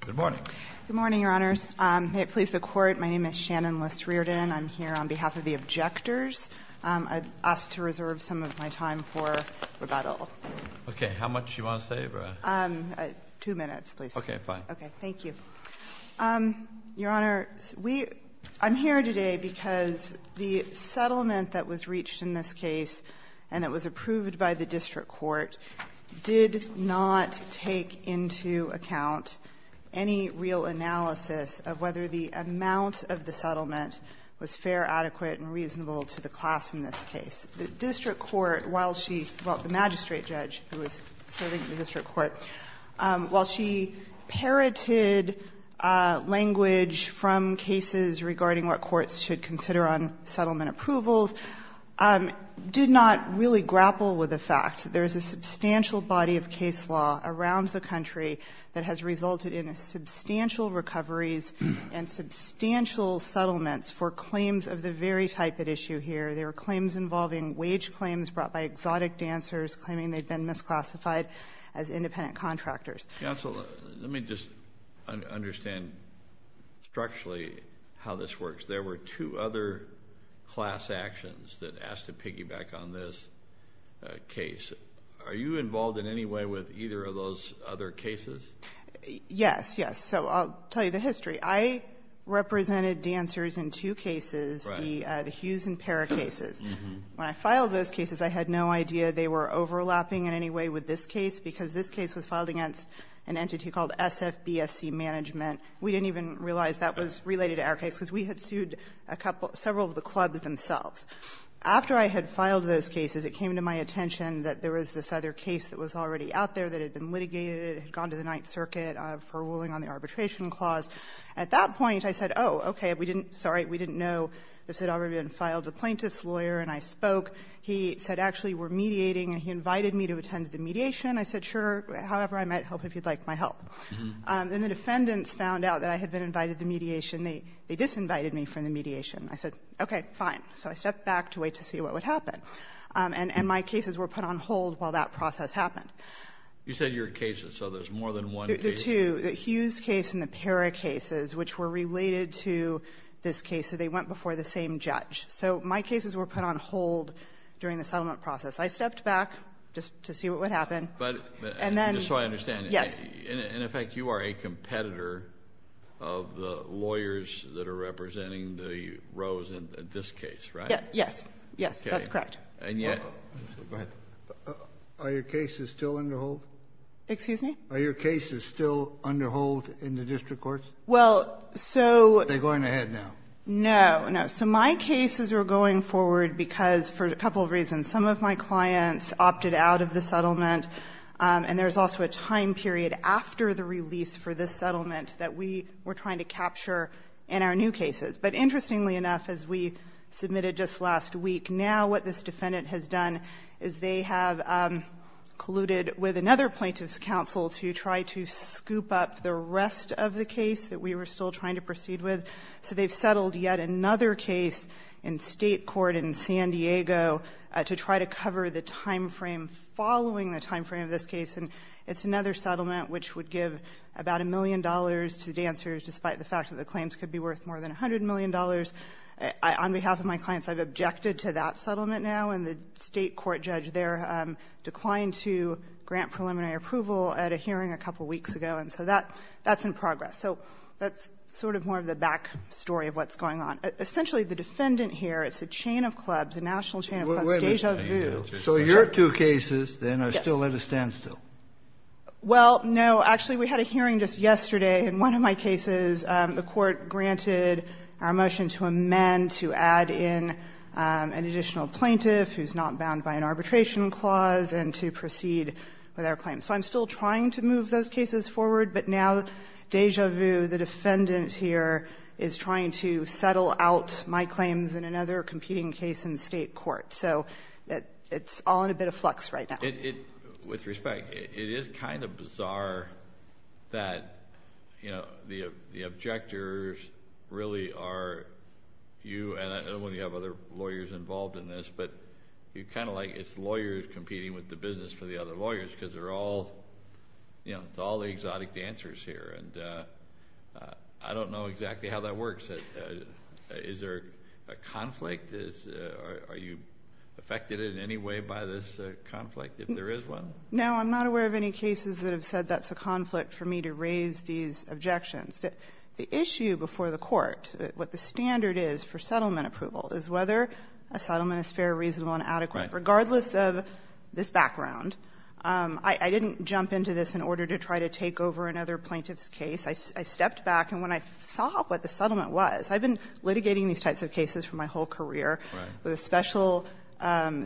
Good morning, Your Honors. May it please the Court, my name is Shannon Liss-Riordan. I'm here on behalf of the objectors. I'd ask to reserve some of my time for rebuttal. Okay, how much do you want to save? Two minutes, please. Okay, fine. Okay, thank you. Your Honor, I'm here today because the settlement that was reached in this case, and it was approved by the district court, did not take into account any real analysis of whether the amount of the settlement was fair, adequate, and reasonable to the class in this case. The district court, while she – well, the magistrate judge who was serving in the district court – while she parroted language from cases regarding what courts should consider on settlement approvals, did not really grapple with the fact that there is a substantial body of case law around the country that has resulted in substantial recoveries and substantial settlements for claims of the very type at issue here. There were claims involving wage claims brought by exotic dancers, claiming they'd been misclassified as independent contractors. Counsel, let me just understand structurally how this works. There were two other class actions that asked to piggyback on this case. Are you involved in any way with either of those other cases? Yes, yes. So I'll tell you the history. I represented dancers in two cases, the Hughes and Parra cases. When I filed those cases, I had no idea they were overlapping in any way with this case, because this case was filed against an entity called SFBSC Management. We didn't even realize that was related to our case, because we had sued a couple – several of the clubs themselves. After I had filed those cases, it came to my attention that there was this other case that was already out there that had been litigated, had gone to the Ninth Circuit for ruling on the arbitration clause. At that point, I said, oh, okay, we didn't – sorry, we didn't know this had already been filed. The plaintiff's lawyer and I spoke. He said, actually, we're mediating, and he invited me to attend the mediation. I said, sure, however, I might help if you'd like my help. Then the defendants found out that I had been invited to the mediation. They disinvited me from the mediation. I said, okay, fine. So I stepped back to wait to see what would happen. And my cases were put on hold while that process happened. You said your cases, so there's more than one case. The two, the Hughes case and the Parra cases, which were related to this case, so they went before the same judge. So my cases were put on hold during the settlement process. I stepped back just to see what would happen. And then — Kennedy, just so I understand — Yes. Kennedy, in effect, you are a competitor of the lawyers that are representing the rows in this case, right? Yes. Yes, that's correct. And yet — Go ahead. Are your cases still under hold? Excuse me? Are your cases still under hold in the district courts? Well, so — Are they going ahead now? No. So my cases are going forward because, for a couple of reasons, some of my clients opted out of the settlement. And there's also a time period after the release for this settlement that we were trying to capture in our new cases. But interestingly enough, as we submitted just last week, now what this defendant has done is they have colluded with another plaintiff's counsel to try to scoop up the rest of the case that we were still trying to proceed with. So they've settled yet another case in state court in San Diego to try to cover the time frame following the time frame of this case. And it's another settlement which would give about a million dollars to dancers, despite the fact that the claims could be worth more than $100 million. On behalf of my clients, I've objected to that settlement now. And the state court judge there declined to grant preliminary approval at a hearing a couple weeks ago. And so that's in progress. So that's sort of more of the back story of what's going on. Essentially, the defendant here, it's a chain of clubs, a national chain of clubs, Deja Vu. Kennedy, so your two cases, then, are still at a standstill? Well, no. Actually, we had a hearing just yesterday. In one of my cases, the Court granted our motion to amend to add in an additional plaintiff who's not bound by an arbitration clause and to proceed with our claim. So I'm still trying to move those cases forward. But now, Deja Vu, the defendant here, is trying to settle out my claims in another competing case in the state court. So it's all in a bit of flux right now. With respect, it is kind of bizarre that the objectors really are you. And I don't know whether you have other lawyers involved in this. But it's kind of like it's lawyers competing with the business for the other lawyers, because it's all the exotic dancers here. And I don't know exactly how that works. Is there a conflict? Are you affected in any way by this conflict, if there is one? No, I'm not aware of any cases that have said that's a conflict for me to raise these objections. The issue before the Court, what the standard is for settlement approval, is whether a settlement is fair, reasonable, and adequate. Regardless of this background, I didn't jump into this in order to try to take over another plaintiff's case. I stepped back. And when I saw what the settlement was, I've been litigating these types of cases for my whole career, with a special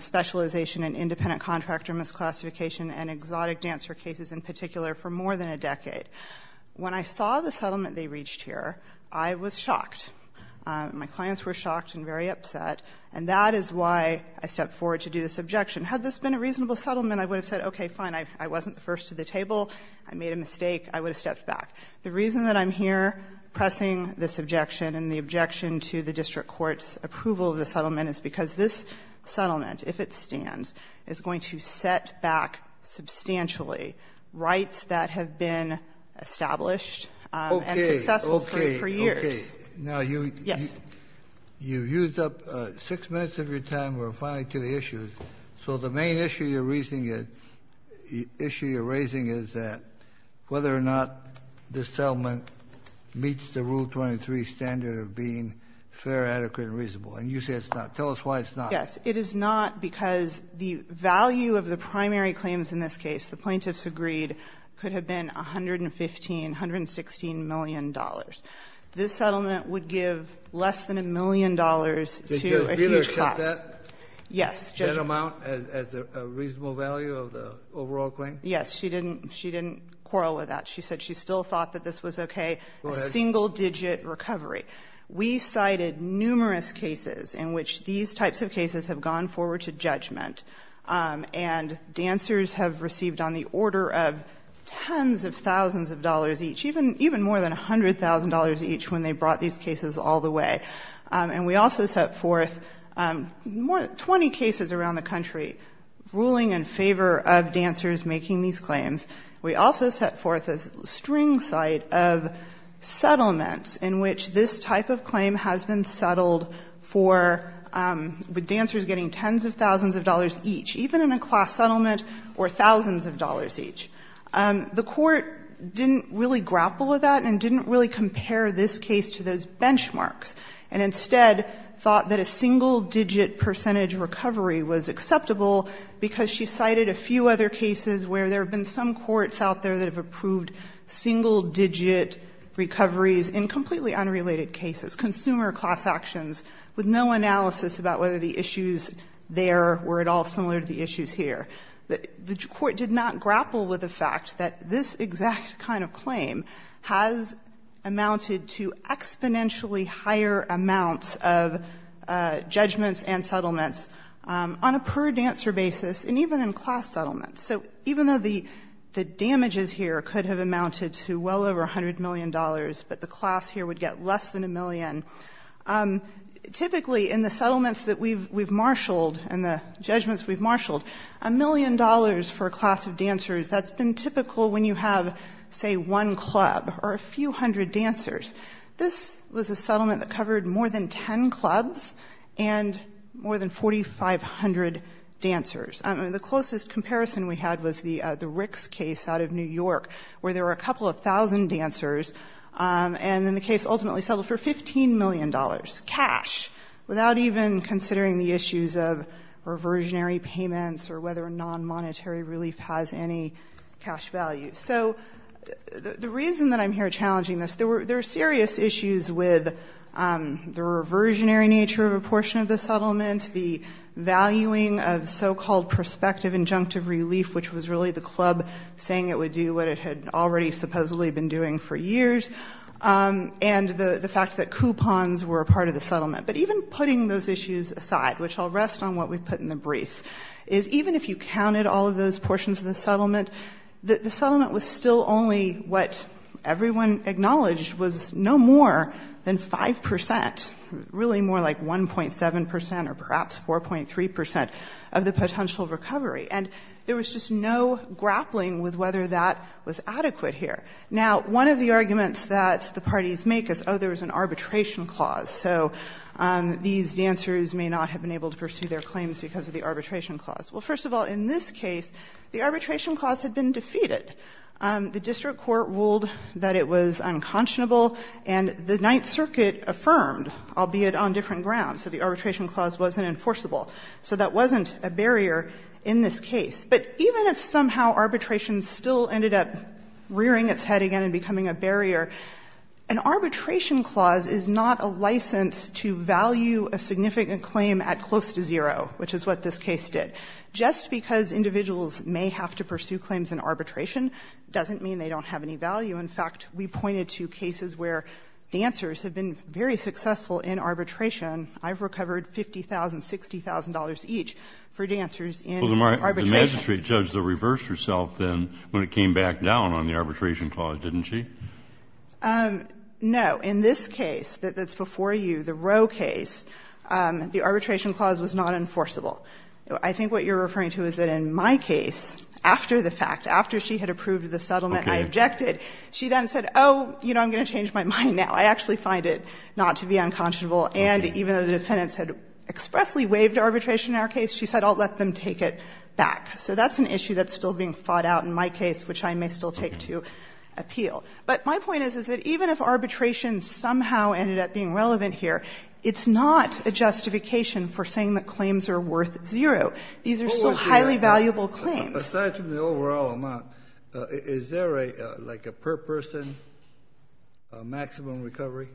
specialization in independent contractor misclassification and exotic dancer cases in particular for more than a decade. When I saw the settlement they reached here, I was shocked. My clients were shocked and very upset. And that is why I stepped forward to do this objection. Had this been a reasonable settlement, I would have said, okay, fine, I wasn't the first to the table. I made a mistake. I would have stepped back. The reason that I'm here pressing this objection and the objection to the district court's approval of the settlement is because this settlement, if it stands, is going to set back substantially rights that have been established and successful for years. Kennedy, now you've used up 6 minutes of your time. We're finally to the issues. So the main issue you're raising is that whether or not this settlement meets the Rule 23 standard of being fair, adequate, and reasonable, and you say it's not. Tell us why it's not. Yes. It is not because the value of the primary claims in this case, the plaintiffs agreed, could have been $115, $116 million. This settlement would give less than $1 million to a huge class. Did Judge Bieler set that? Yes. That amount as a reasonable value of the overall claim? Yes. She didn't quarrel with that. She said she still thought that this was okay. A single digit recovery. We cited numerous cases in which these types of cases have gone forward to judgment and dancers have received on the order of tens of thousands of dollars each, even more than $100,000 each when they brought these cases all the way. And we also set forth 20 cases around the country ruling in favor of dancers making these claims. We also set forth a string site of settlements in which this type of claim has been settled for, with dancers getting tens of thousands of dollars each, even in a class settlement, or thousands of dollars each. The court didn't really grapple with that and didn't really compare this case to those benchmarks, and instead thought that a single digit percentage recovery was acceptable because she cited a few other cases where there have been some courts out there that have approved single digit recoveries in completely unrelated cases, consumer class actions, with no analysis about whether the issues there were at all similar to the fact that this exact kind of claim has amounted to exponentially higher amounts of judgments and settlements on a per-dancer basis and even in class settlements. So even though the damages here could have amounted to well over $100 million, but the class here would get less than a million, typically in the settlements that we've marshaled and the judgments we've marshaled, a million dollars for a class of dancers that's been typical when you have, say, one club or a few hundred dancers. This was a settlement that covered more than ten clubs and more than 4,500 dancers. The closest comparison we had was the Ricks case out of New York, where there were a couple of thousand dancers, and then the case ultimately settled for $15 million cash, without even considering the issues of reversionary payments or whether a non-monetary relief has any cash value. So the reason that I'm here challenging this, there were serious issues with the reversionary nature of a portion of the settlement, the valuing of so-called prospective injunctive relief, which was really the club saying it would do what it had already supposedly been doing for years, and the fact that coupons were a part of the settlement. But even putting those issues aside, which I'll rest on what we've put in the briefs, is even if you counted all of those portions of the settlement, the settlement was still only what everyone acknowledged was no more than 5 percent, really more like 1.7 percent or perhaps 4.3 percent of the potential recovery, and there was just no grappling with whether that was adequate here. Now, one of the arguments that the parties make is, oh, there was an arbitration clause, so these dancers may not have been able to pursue their claims because of the arbitration clause. Well, first of all, in this case, the arbitration clause had been defeated. The district court ruled that it was unconscionable, and the Ninth Circuit affirmed, albeit on different grounds, that the arbitration clause wasn't enforceable. So that wasn't a barrier in this case. But even if somehow arbitration still ended up rearing its head again and becoming a barrier, an arbitration clause is not a license to value a significant claim at close to zero, which is what this case did. Just because individuals may have to pursue claims in arbitration doesn't mean they don't have any value. In fact, we pointed to cases where dancers have been very successful for dancers in arbitration. Well, the magistrate judge, though, reversed herself then when it came back down on the arbitration clause, didn't she? No. In this case that's before you, the Roe case, the arbitration clause was not enforceable. I think what you're referring to is that in my case, after the fact, after she had approved the settlement, I objected, she then said, oh, you know, I'm going to change my mind now. I actually find it not to be unconscionable. And even though the defendants had expressly waived arbitration in our case, she said, I'll let them take it back. So that's an issue that's still being fought out in my case, which I may still take to appeal. But my point is, is that even if arbitration somehow ended up being relevant here, it's not a justification for saying that claims are worth zero. These are still highly valuable claims. But aside from the overall amount, is there a, like a per person maximum recovery?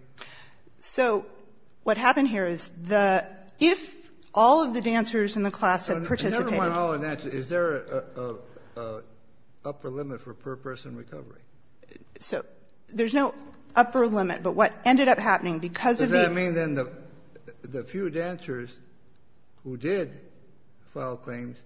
So what happened here is the, if all of the dancers in the class had participated Never mind all the dancers. Is there a upper limit for per person recovery? So there's no upper limit. But what ended up happening, because of the Does that mean then the few dancers who did file claims,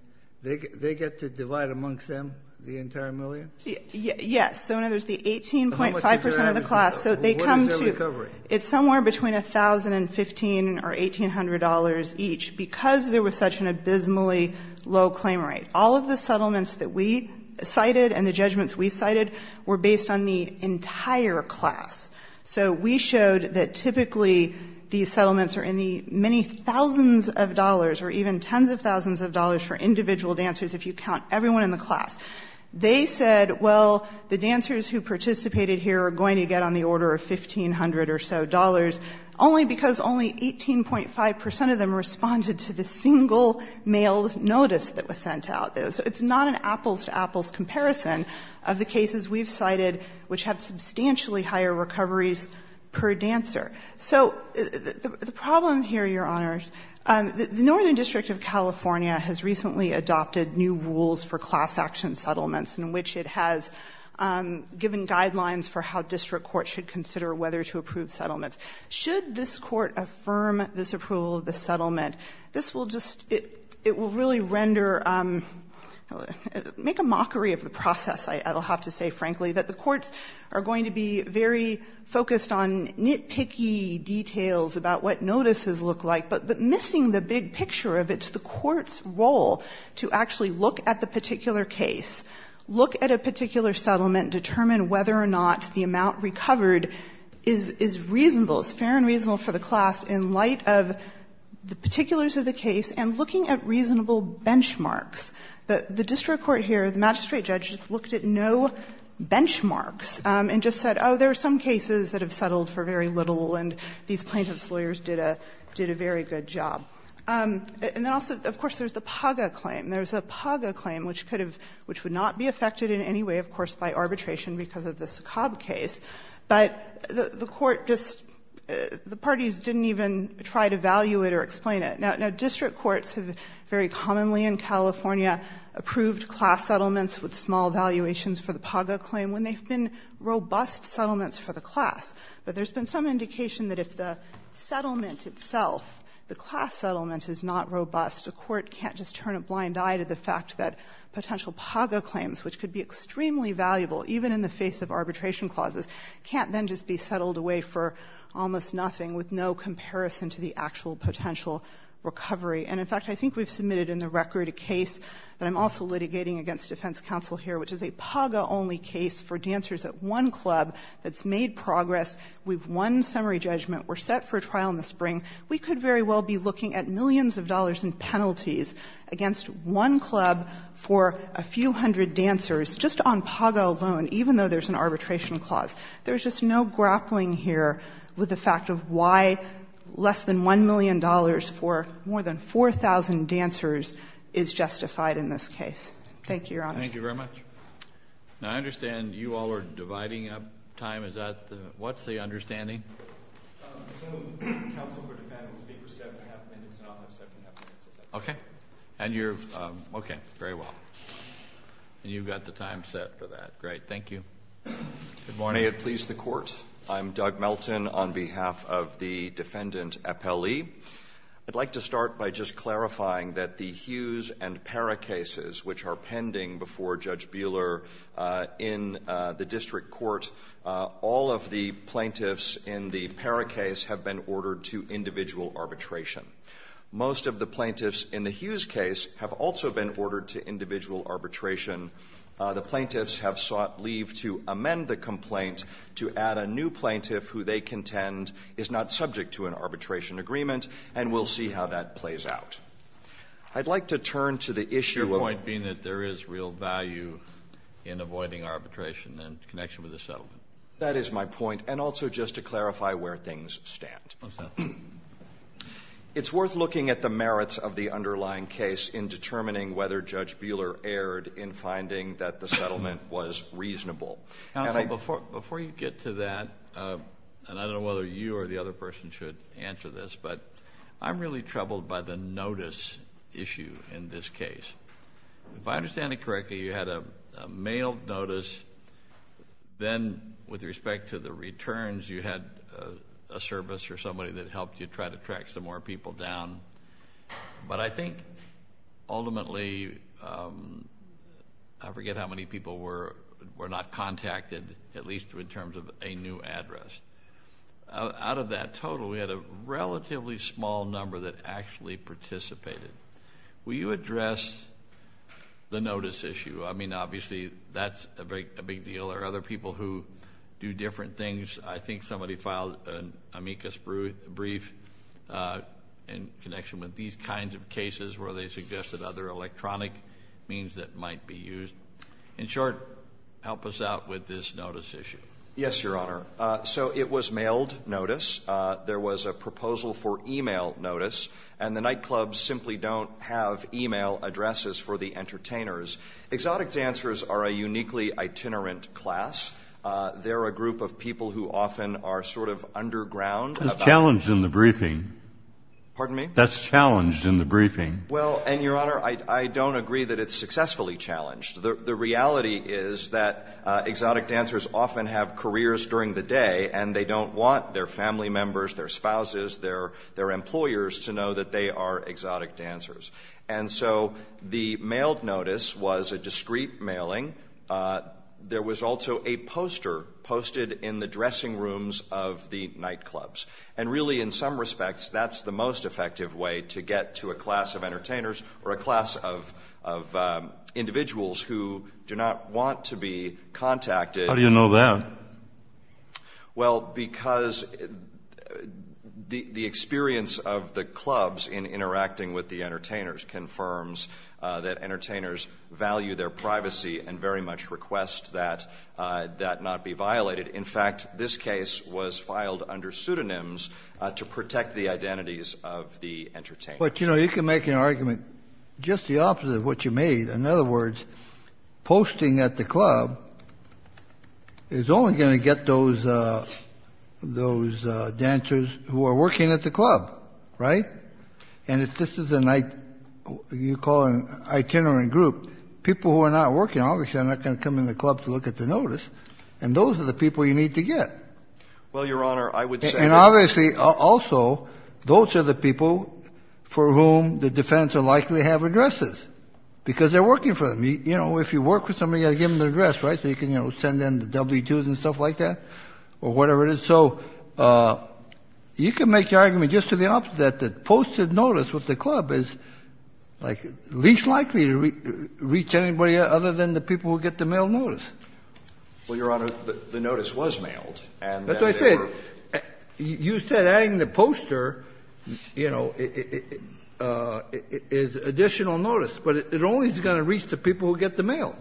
they get to divide amongst them the entire million? Yes. So now there's the 18.5 percent of the class. So they come to What is their recovery? It's somewhere between $1,000 and $1,500 or $1,800 each, because there was such an abysmally low claim rate. All of the settlements that we cited and the judgments we cited were based on the entire class. So we showed that typically these settlements are in the many thousands of dollars or even tens of thousands of dollars for individual dancers, if you count everyone in the class. They said, well, the dancers who participated here are going to get on the order of $1,500 or so, only because only 18.5 percent of them responded to the single mail notice that was sent out. So it's not an apples to apples comparison of the cases we've cited, which have substantially higher recoveries per dancer. So the problem here, Your Honors, the Northern District of California has recently adopted new rules for class action settlements in which it has given guidelines for how district courts should consider whether to approve settlements. Should this court affirm this approval of the settlement, this will just, it will really render, make a mockery of the process, I'll have to say, frankly, that the courts are going to be very focused on nitpicky details about what notices look like, but missing the big picture of it's the court's role to actually look at the particular case, look at a particular settlement, determine whether or not the amount recovered is reasonable, is fair and reasonable for the class in light of the particulars of the case and looking at reasonable benchmarks. The district court here, the magistrate judge, just looked at no benchmarks and just said, oh, there are some cases that have settled for very little and these have done a very good job. And then also, of course, there's the PAGA claim. There's a PAGA claim which could have, which would not be affected in any way, of course, by arbitration because of the Sokob case. But the court just, the parties didn't even try to value it or explain it. Now, district courts have very commonly in California approved class settlements with small valuations for the PAGA claim when they've been robust settlements for the class. But there's been some indication that if the settlement itself, the class settlement is not robust, the court can't just turn a blind eye to the fact that potential PAGA claims, which could be extremely valuable even in the face of arbitration clauses, can't then just be settled away for almost nothing with no comparison to the actual potential recovery. And in fact, I think we've submitted in the record a case that I'm also litigating against defense counsel here, which is a PAGA-only case for dancers at one club that's made progress. We've won summary judgment. We're set for a trial in the spring. We could very well be looking at millions of dollars in penalties against one club for a few hundred dancers just on PAGA alone, even though there's an arbitration clause. There's just no grappling here with the fact of why less than $1 million for more than 4,000 dancers is justified in this case. Thank you, Your Honor. Thank you very much. Now, I understand you all are dividing up time. Is that the – what's the understanding? So counsel for defendant will speak for seven and a half minutes and I'll have seven and a half minutes. Okay. And you're – okay. Very well. And you've got the time set for that. Great. Thank you. Good morning. May it please the Court. I'm Doug Melton on behalf of the defendant appellee. I'd like to start by just clarifying that the Hughes and Pera cases, which are pending before Judge Buehler in the district court, all of the plaintiffs in the Pera case have been ordered to individual arbitration. Most of the plaintiffs in the Hughes case have also been ordered to individual arbitration. The plaintiffs have sought leave to amend the complaint to add a new plaintiff who they contend is not subject to an arbitration agreement, and we'll see how that plays out. I'd like to turn to the issue of – of the judicial value in avoiding arbitration in connection with the settlement. That is my point. And also just to clarify where things stand. What's that? It's worth looking at the merits of the underlying case in determining whether Judge Buehler erred in finding that the settlement was reasonable. Counsel, before you get to that, and I don't know whether you or the other person should answer this, but I'm really troubled by the notice issue in this case. If I understand it correctly, you had a mail notice. Then with respect to the returns, you had a service or somebody that helped you try to track some more people down. But I think ultimately – I forget how many people were not contacted, at least in terms of a new address. Out of that total, we had a relatively small number that actually participated. Will you address the notice issue? I mean, obviously, that's a big deal. There are other people who do different things. I think somebody filed an amicus brief in connection with these kinds of cases where they suggested other electronic means that might be used. In short, help us out with this notice issue. Yes, Your Honor. So it was mailed notice. There was a proposal for email notice. And the nightclubs simply don't have email addresses for the entertainers. Exotic dancers are a uniquely itinerant class. They're a group of people who often are sort of underground. That's challenged in the briefing. Pardon me? That's challenged in the briefing. Well, and, Your Honor, I don't agree that it's successfully challenged. The reality is that exotic dancers often have careers during the day, and they don't want their family members, their spouses, their employers to know that they are exotic dancers. And so the mailed notice was a discreet mailing. There was also a poster posted in the dressing rooms of the nightclubs. And really, in some respects, that's the most effective way to get to a class of entertainers or a class of individuals who do not want to be contacted. How do you know that? Well, because the experience of the clubs in interacting with the entertainers confirms that entertainers value their privacy and very much request that that not be violated. In fact, this case was filed under pseudonyms to protect the identities of the entertainers. But, you know, you can make an argument just the opposite of what you made. In other words, posting at the club is only going to get those dancers who are working at the club, right? And if this is an itinerant group, people who are not working obviously are not going to come in the club to look at the notice, and those are the people you need to get. Well, Your Honor, I would say that. And obviously, also, those are the people for whom the defendants are likely to have addresses because they're working for them. You know, if you work for somebody, you've got to give them their address, right? So you can, you know, send in the W-2s and stuff like that or whatever it is. So you can make your argument just to the opposite that posted notice with the club is, like, least likely to reach anybody other than the people who get the mail notice. Well, Your Honor, the notice was mailed. That's what I said. You said adding the poster, you know, is additional notice, but it only is going to reach the people who get the mail.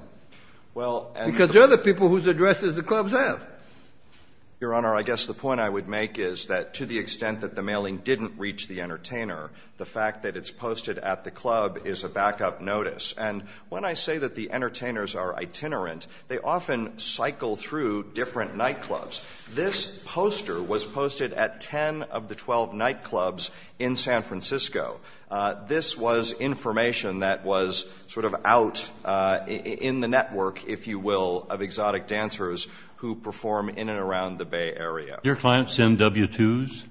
Well, and the other people whose addresses the clubs have. Your Honor, I guess the point I would make is that to the extent that the mailing didn't reach the entertainer, the fact that it's posted at the club is a backup notice. And when I say that the entertainers are itinerant, they often cycle through different nightclubs. This poster was posted at 10 of the 12 nightclubs in San Francisco. This was information that was sort of out in the network, if you will, of exotic dancers who perform in and around the Bay Area. Your clients send W-2s?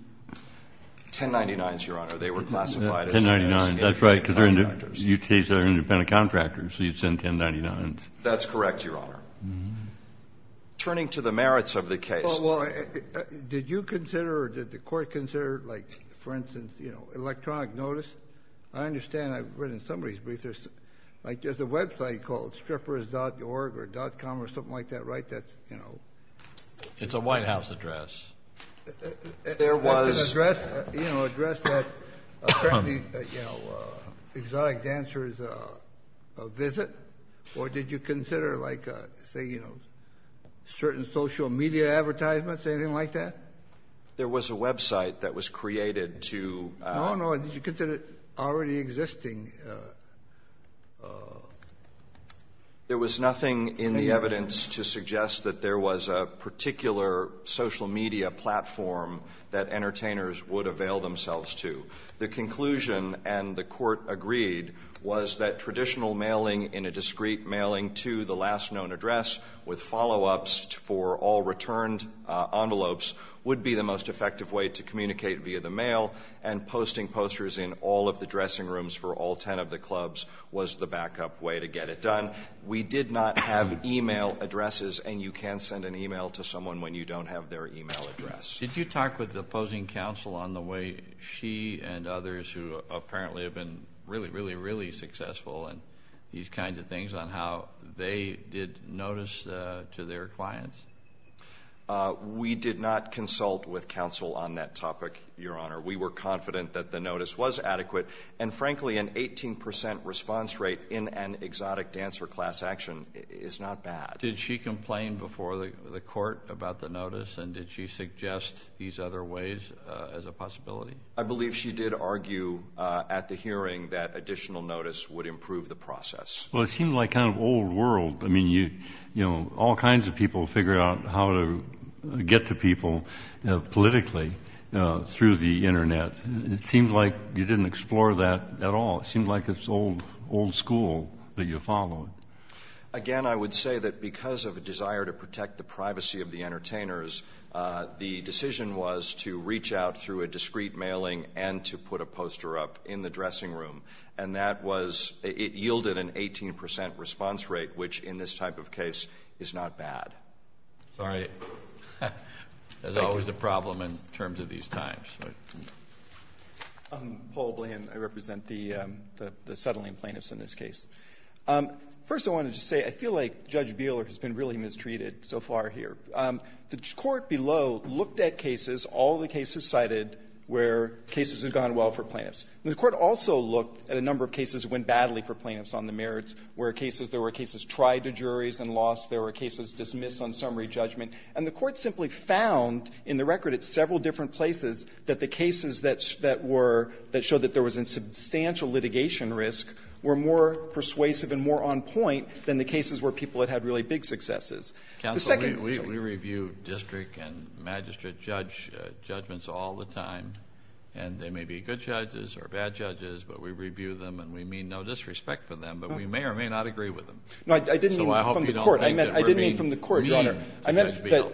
1099s, Your Honor. They were classified as independent contractors. That's right, because they're independent contractors, so you'd send 1099s. That's correct, Your Honor. Turning to the merits of the case. Well, did you consider or did the court consider, like, for instance, electronic notice? I understand I've read in somebody's brief there's a website called strippers.org or .com or something like that, right? It's a White House address. There was an address that apparently exotic dancers visit, or did you consider, like, say, you know, certain social media advertisements, anything like that? There was a website that was created to. No, no. Did you consider already existing? There was nothing in the evidence to suggest that there was a particular social media platform that entertainers would avail themselves to. The conclusion, and the court agreed, was that traditional mailing in a discrete mailing to the last known address with follow-ups for all returned envelopes would be the most effective way to communicate via the mail, and posting posters in all of the dressing rooms for all 10 of the clubs was the back-up way to get it done. We did not have e-mail addresses, and you can't send an e-mail to someone when you don't have their e-mail address. Did you talk with the opposing counsel on the way she and others who apparently have been really, really, really successful in these kinds of things on how they did notice to their clients? We did not consult with counsel on that topic, Your Honor. We were confident that the notice was adequate, and frankly, an 18 percent response rate in an exotic dancer class action is not bad. Did she complain before the court about the notice, and did she suggest these other ways as a possibility? I believe she did argue at the hearing that additional notice would improve the process. Well, it seemed like kind of old world. I mean, you know, all kinds of people figure out how to get to people politically through the Internet. It seems like you didn't explore that at all. It seems like it's old school that you follow. Again, I would say that because of a desire to protect the privacy of the e-mailing and to put a poster up in the dressing room. And that was — it yielded an 18 percent response rate, which in this type of case is not bad. Sorry. There's always a problem in terms of these times. Paul Bland. I represent the settling plaintiffs in this case. First, I wanted to say, I feel like Judge Beeler has been really mistreated so far here. The Court below looked at cases, all the cases cited, where cases have gone well for plaintiffs. The Court also looked at a number of cases that went badly for plaintiffs on the merits, where cases — there were cases tried to juries and lost. There were cases dismissed on summary judgment. And the Court simply found in the record at several different places that the cases that were — that showed that there was a substantial litigation risk were more persuasive and more on point than the cases where people had had really big successes. The second point. Counsel, we review district and magistrate judge judgments all the time. And they may be good judges or bad judges, but we review them and we mean no disrespect for them, but we may or may not agree with them. So I hope you don't think that we're being mean to Judge Beeler. No, I didn't mean from the Court, Your Honor. I meant that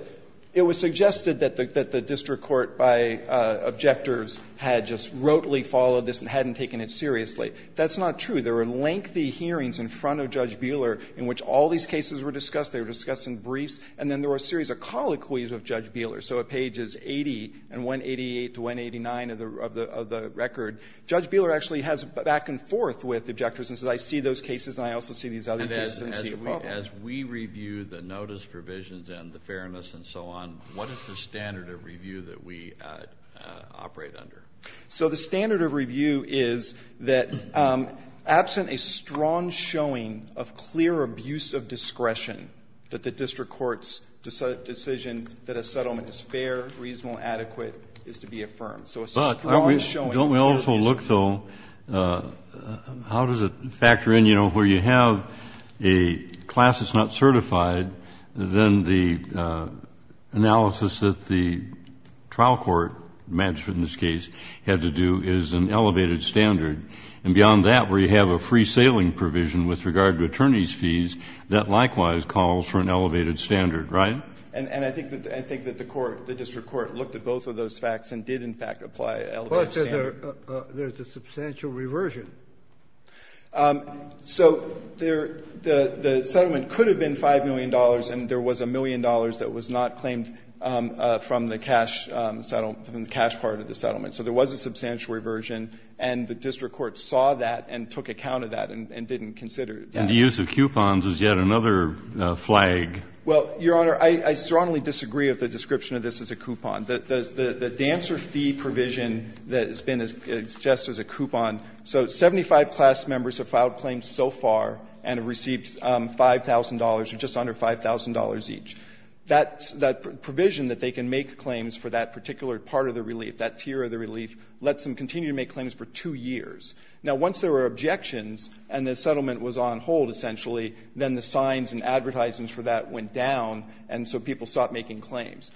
it was suggested that the district court by objectors had just rotely followed this and hadn't taken it seriously. That's not true. There were lengthy hearings in front of Judge Beeler in which all these cases were discussed in briefs. And then there were a series of colloquies of Judge Beeler. So at pages 80 and 188 to 189 of the record, Judge Beeler actually has back-and-forth with objectors and says, I see those cases and I also see these other cases and see a problem. And as we review the notice provisions and the fairness and so on, what is the standard of review that we operate under? So the standard of review is that absent a strong showing of clear abuse of discretion that the district court's decision that a settlement is fair, reasonable, adequate is to be affirmed. So a strong showing of clear abuse of discretion. But don't we also look, though, how does it factor in, you know, where you have a class that's not certified, then the analysis that the trial court, the magistrate in this case, had to do is an elevated standard. And beyond that, where you have a free sailing provision with regard to attorney's fees, that likewise calls for an elevated standard, right? And I think that the court, the district court looked at both of those facts and did, in fact, apply an elevated standard. But there's a substantial reversion. So the settlement could have been $5 million and there was a million dollars that was not claimed from the cash settlement, from the cash part of the settlement. So there was a substantial reversion and the district court saw that and took account of that and didn't consider that. And the use of coupons is yet another flag. Well, Your Honor, I strongly disagree with the description of this as a coupon. The dancer fee provision that has been suggested as a coupon, so 75 class members have filed claims so far and have received $5,000 or just under $5,000 each. That provision that they can make claims for that particular part of the relief, that tier of the relief, lets them continue to make claims for two years. Now, once there were objections and the settlement was on hold, essentially, then the signs and advertisements for that went down, and so people stopped making claims.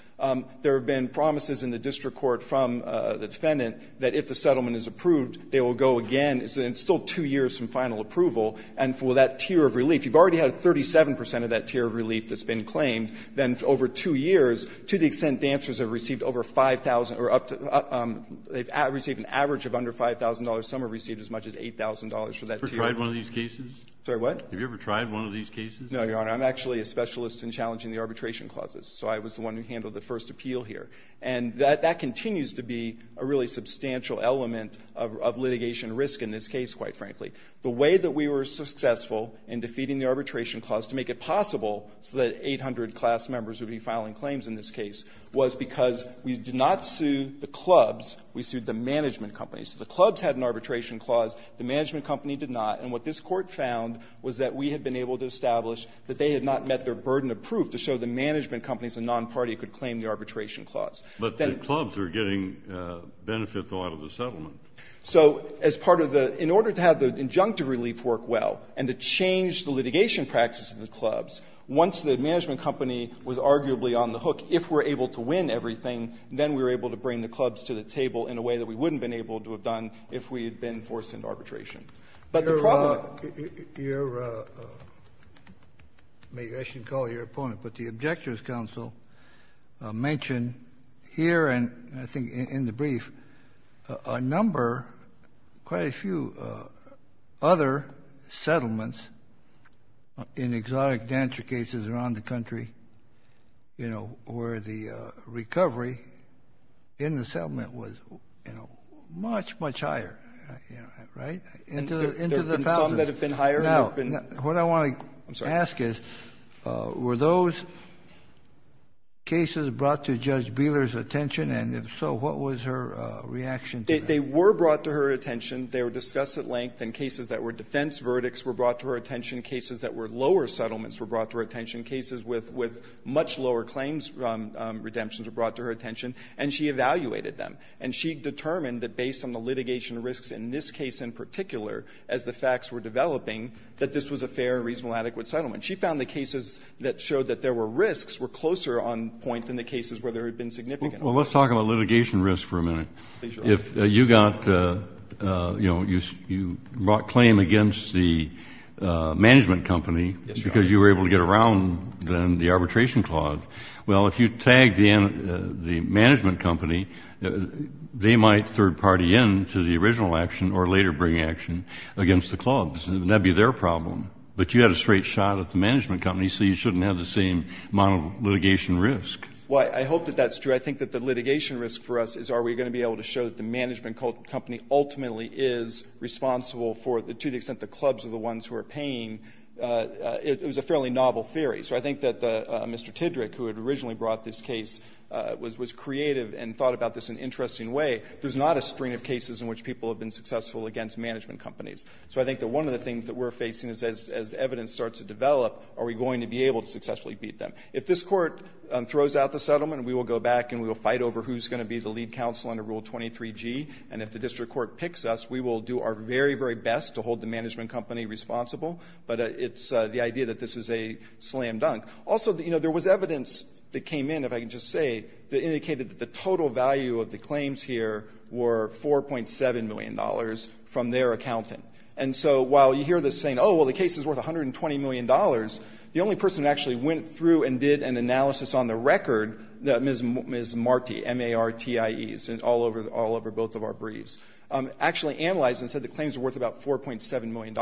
There have been promises in the district court from the defendant that if the settlement is approved, they will go again. It's still two years from final approval. And for that tier of relief, you've already had 37 percent of that tier of relief that's been claimed. Then over two years, to the extent dancers have received over 5,000 or up to they've received an average of under $5,000, some have received as much as $8,000 for that tier. Have you ever tried one of these cases? Sorry, what? Have you ever tried one of these cases? No, Your Honor. I'm actually a specialist in challenging the arbitration clauses, so I was the one who handled the first appeal here. And that continues to be a really substantial element of litigation risk in this case, quite frankly. The way that we were successful in defeating the arbitration clause to make it possible so that 800 class members would be filing claims in this case was because we did not sue the clubs. We sued the management companies. The clubs had an arbitration clause. The management company did not. And what this Court found was that we had been able to establish that they had not met their burden of proof to show the management companies and nonparty could claim the arbitration clause. But the clubs are getting benefits a lot of the settlement. So as part of the – in order to have the injunctive relief work well and to change the litigation practice of the clubs, once the management company was arguably on the hook, if we're able to win everything, then we were able to bring the clubs to the table in a way that we wouldn't have been able to have done if we had been forced into arbitration. But the problem – Your – maybe I shouldn't call you your opponent, but the Objectors' Council mentioned here and I think in the brief a number, quite a few other settlements in exotic dancer cases around the country, you know, where the recovery in the settlement was, you know, much, much higher, right? Into the thousands. There have been some that have been higher. Now, what I want to ask is, were those cases brought to Judge Bieler's attention? And if so, what was her reaction to that? They were brought to her attention. They were discussed at length. And cases that were defense verdicts were brought to her attention. Cases that were lower settlements were brought to her attention. Cases with much lower claims redemptions were brought to her attention. And she evaluated them. And she determined that based on the litigation risks in this case in particular, as the facts were developing, that this was a fair and reasonable adequate settlement. She found the cases that showed that there were risks were closer on point than the cases where there had been significant risks. Well, let's talk about litigation risks for a minute. Please, Your Honor. If you got, you know, you brought claim against the management company because you were able to get around then the arbitration clause. Well, if you tagged in the management company, they might third party in to the original action or later bring action against the clause. And that would be their problem. But you had a straight shot at the management company, so you shouldn't have the same amount of litigation risk. Well, I hope that that's true. I think that the litigation risk for us is are we going to be able to show that the management company ultimately is responsible for, to the extent the clubs are the ones who are paying. It was a fairly novel theory. So I think that Mr. Tidrick, who had originally brought this case, was creative and thought about this in an interesting way. There's not a string of cases in which people have been successful against management companies. So I think that one of the things that we're facing is as evidence starts to develop, are we going to be able to successfully beat them? If this Court throws out the settlement, we will go back and we will fight over who's going to be the lead counsel under Rule 23G. And if the district court picks us, we will do our very, very best to hold the management company responsible. But it's the idea that this is a slam dunk. Also, you know, there was evidence that came in, if I can just say, that indicated that the total value of the claims here were $4.7 million from their accountant. And so while you hear this saying, oh, well, the case is worth $120 million, the only person that actually went through and did an analysis on the record, Ms. Marti, M-A-R-T-I-E, all over both of our briefs, actually analyzed and said the claims were worth about $4.7 million.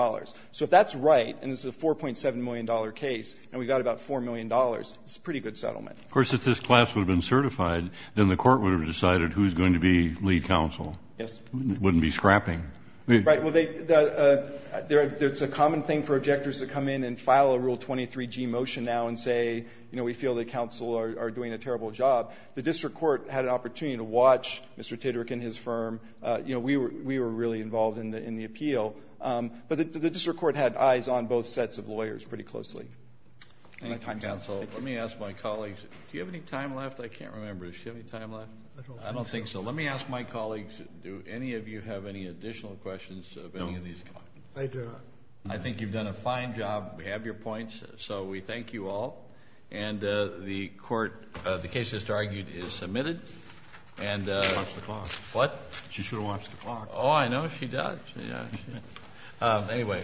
So if that's right, and this is a $4.7 million case, and we got about $4 million, it's a pretty good settlement. Of course, if this class would have been certified, then the Court would have decided who's going to be lead counsel. Yes. Wouldn't be scrapping. Right. Well, it's a common thing for objectors to come in and file a Rule 23G motion now and say, you know, we feel that counsel are doing a terrible job. The district court had an opportunity to watch Mr. Titterick and his firm. You know, we were really involved in the appeal. But the district court had eyes on both sets of lawyers pretty closely. Thank you, counsel. Let me ask my colleagues. Do you have any time left? I can't remember. Do you have any time left? I don't think so. Let me ask my colleagues, do any of you have any additional questions? No. I do not. I think you've done a fine job. We have your points, so we thank you all. And the case that's argued is submitted. She should have watched the clock. What? She should have watched the clock. Oh, I know. She does. Anyway,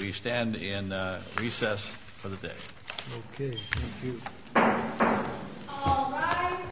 we stand in recess for the day. Okay. Thank you. All rise.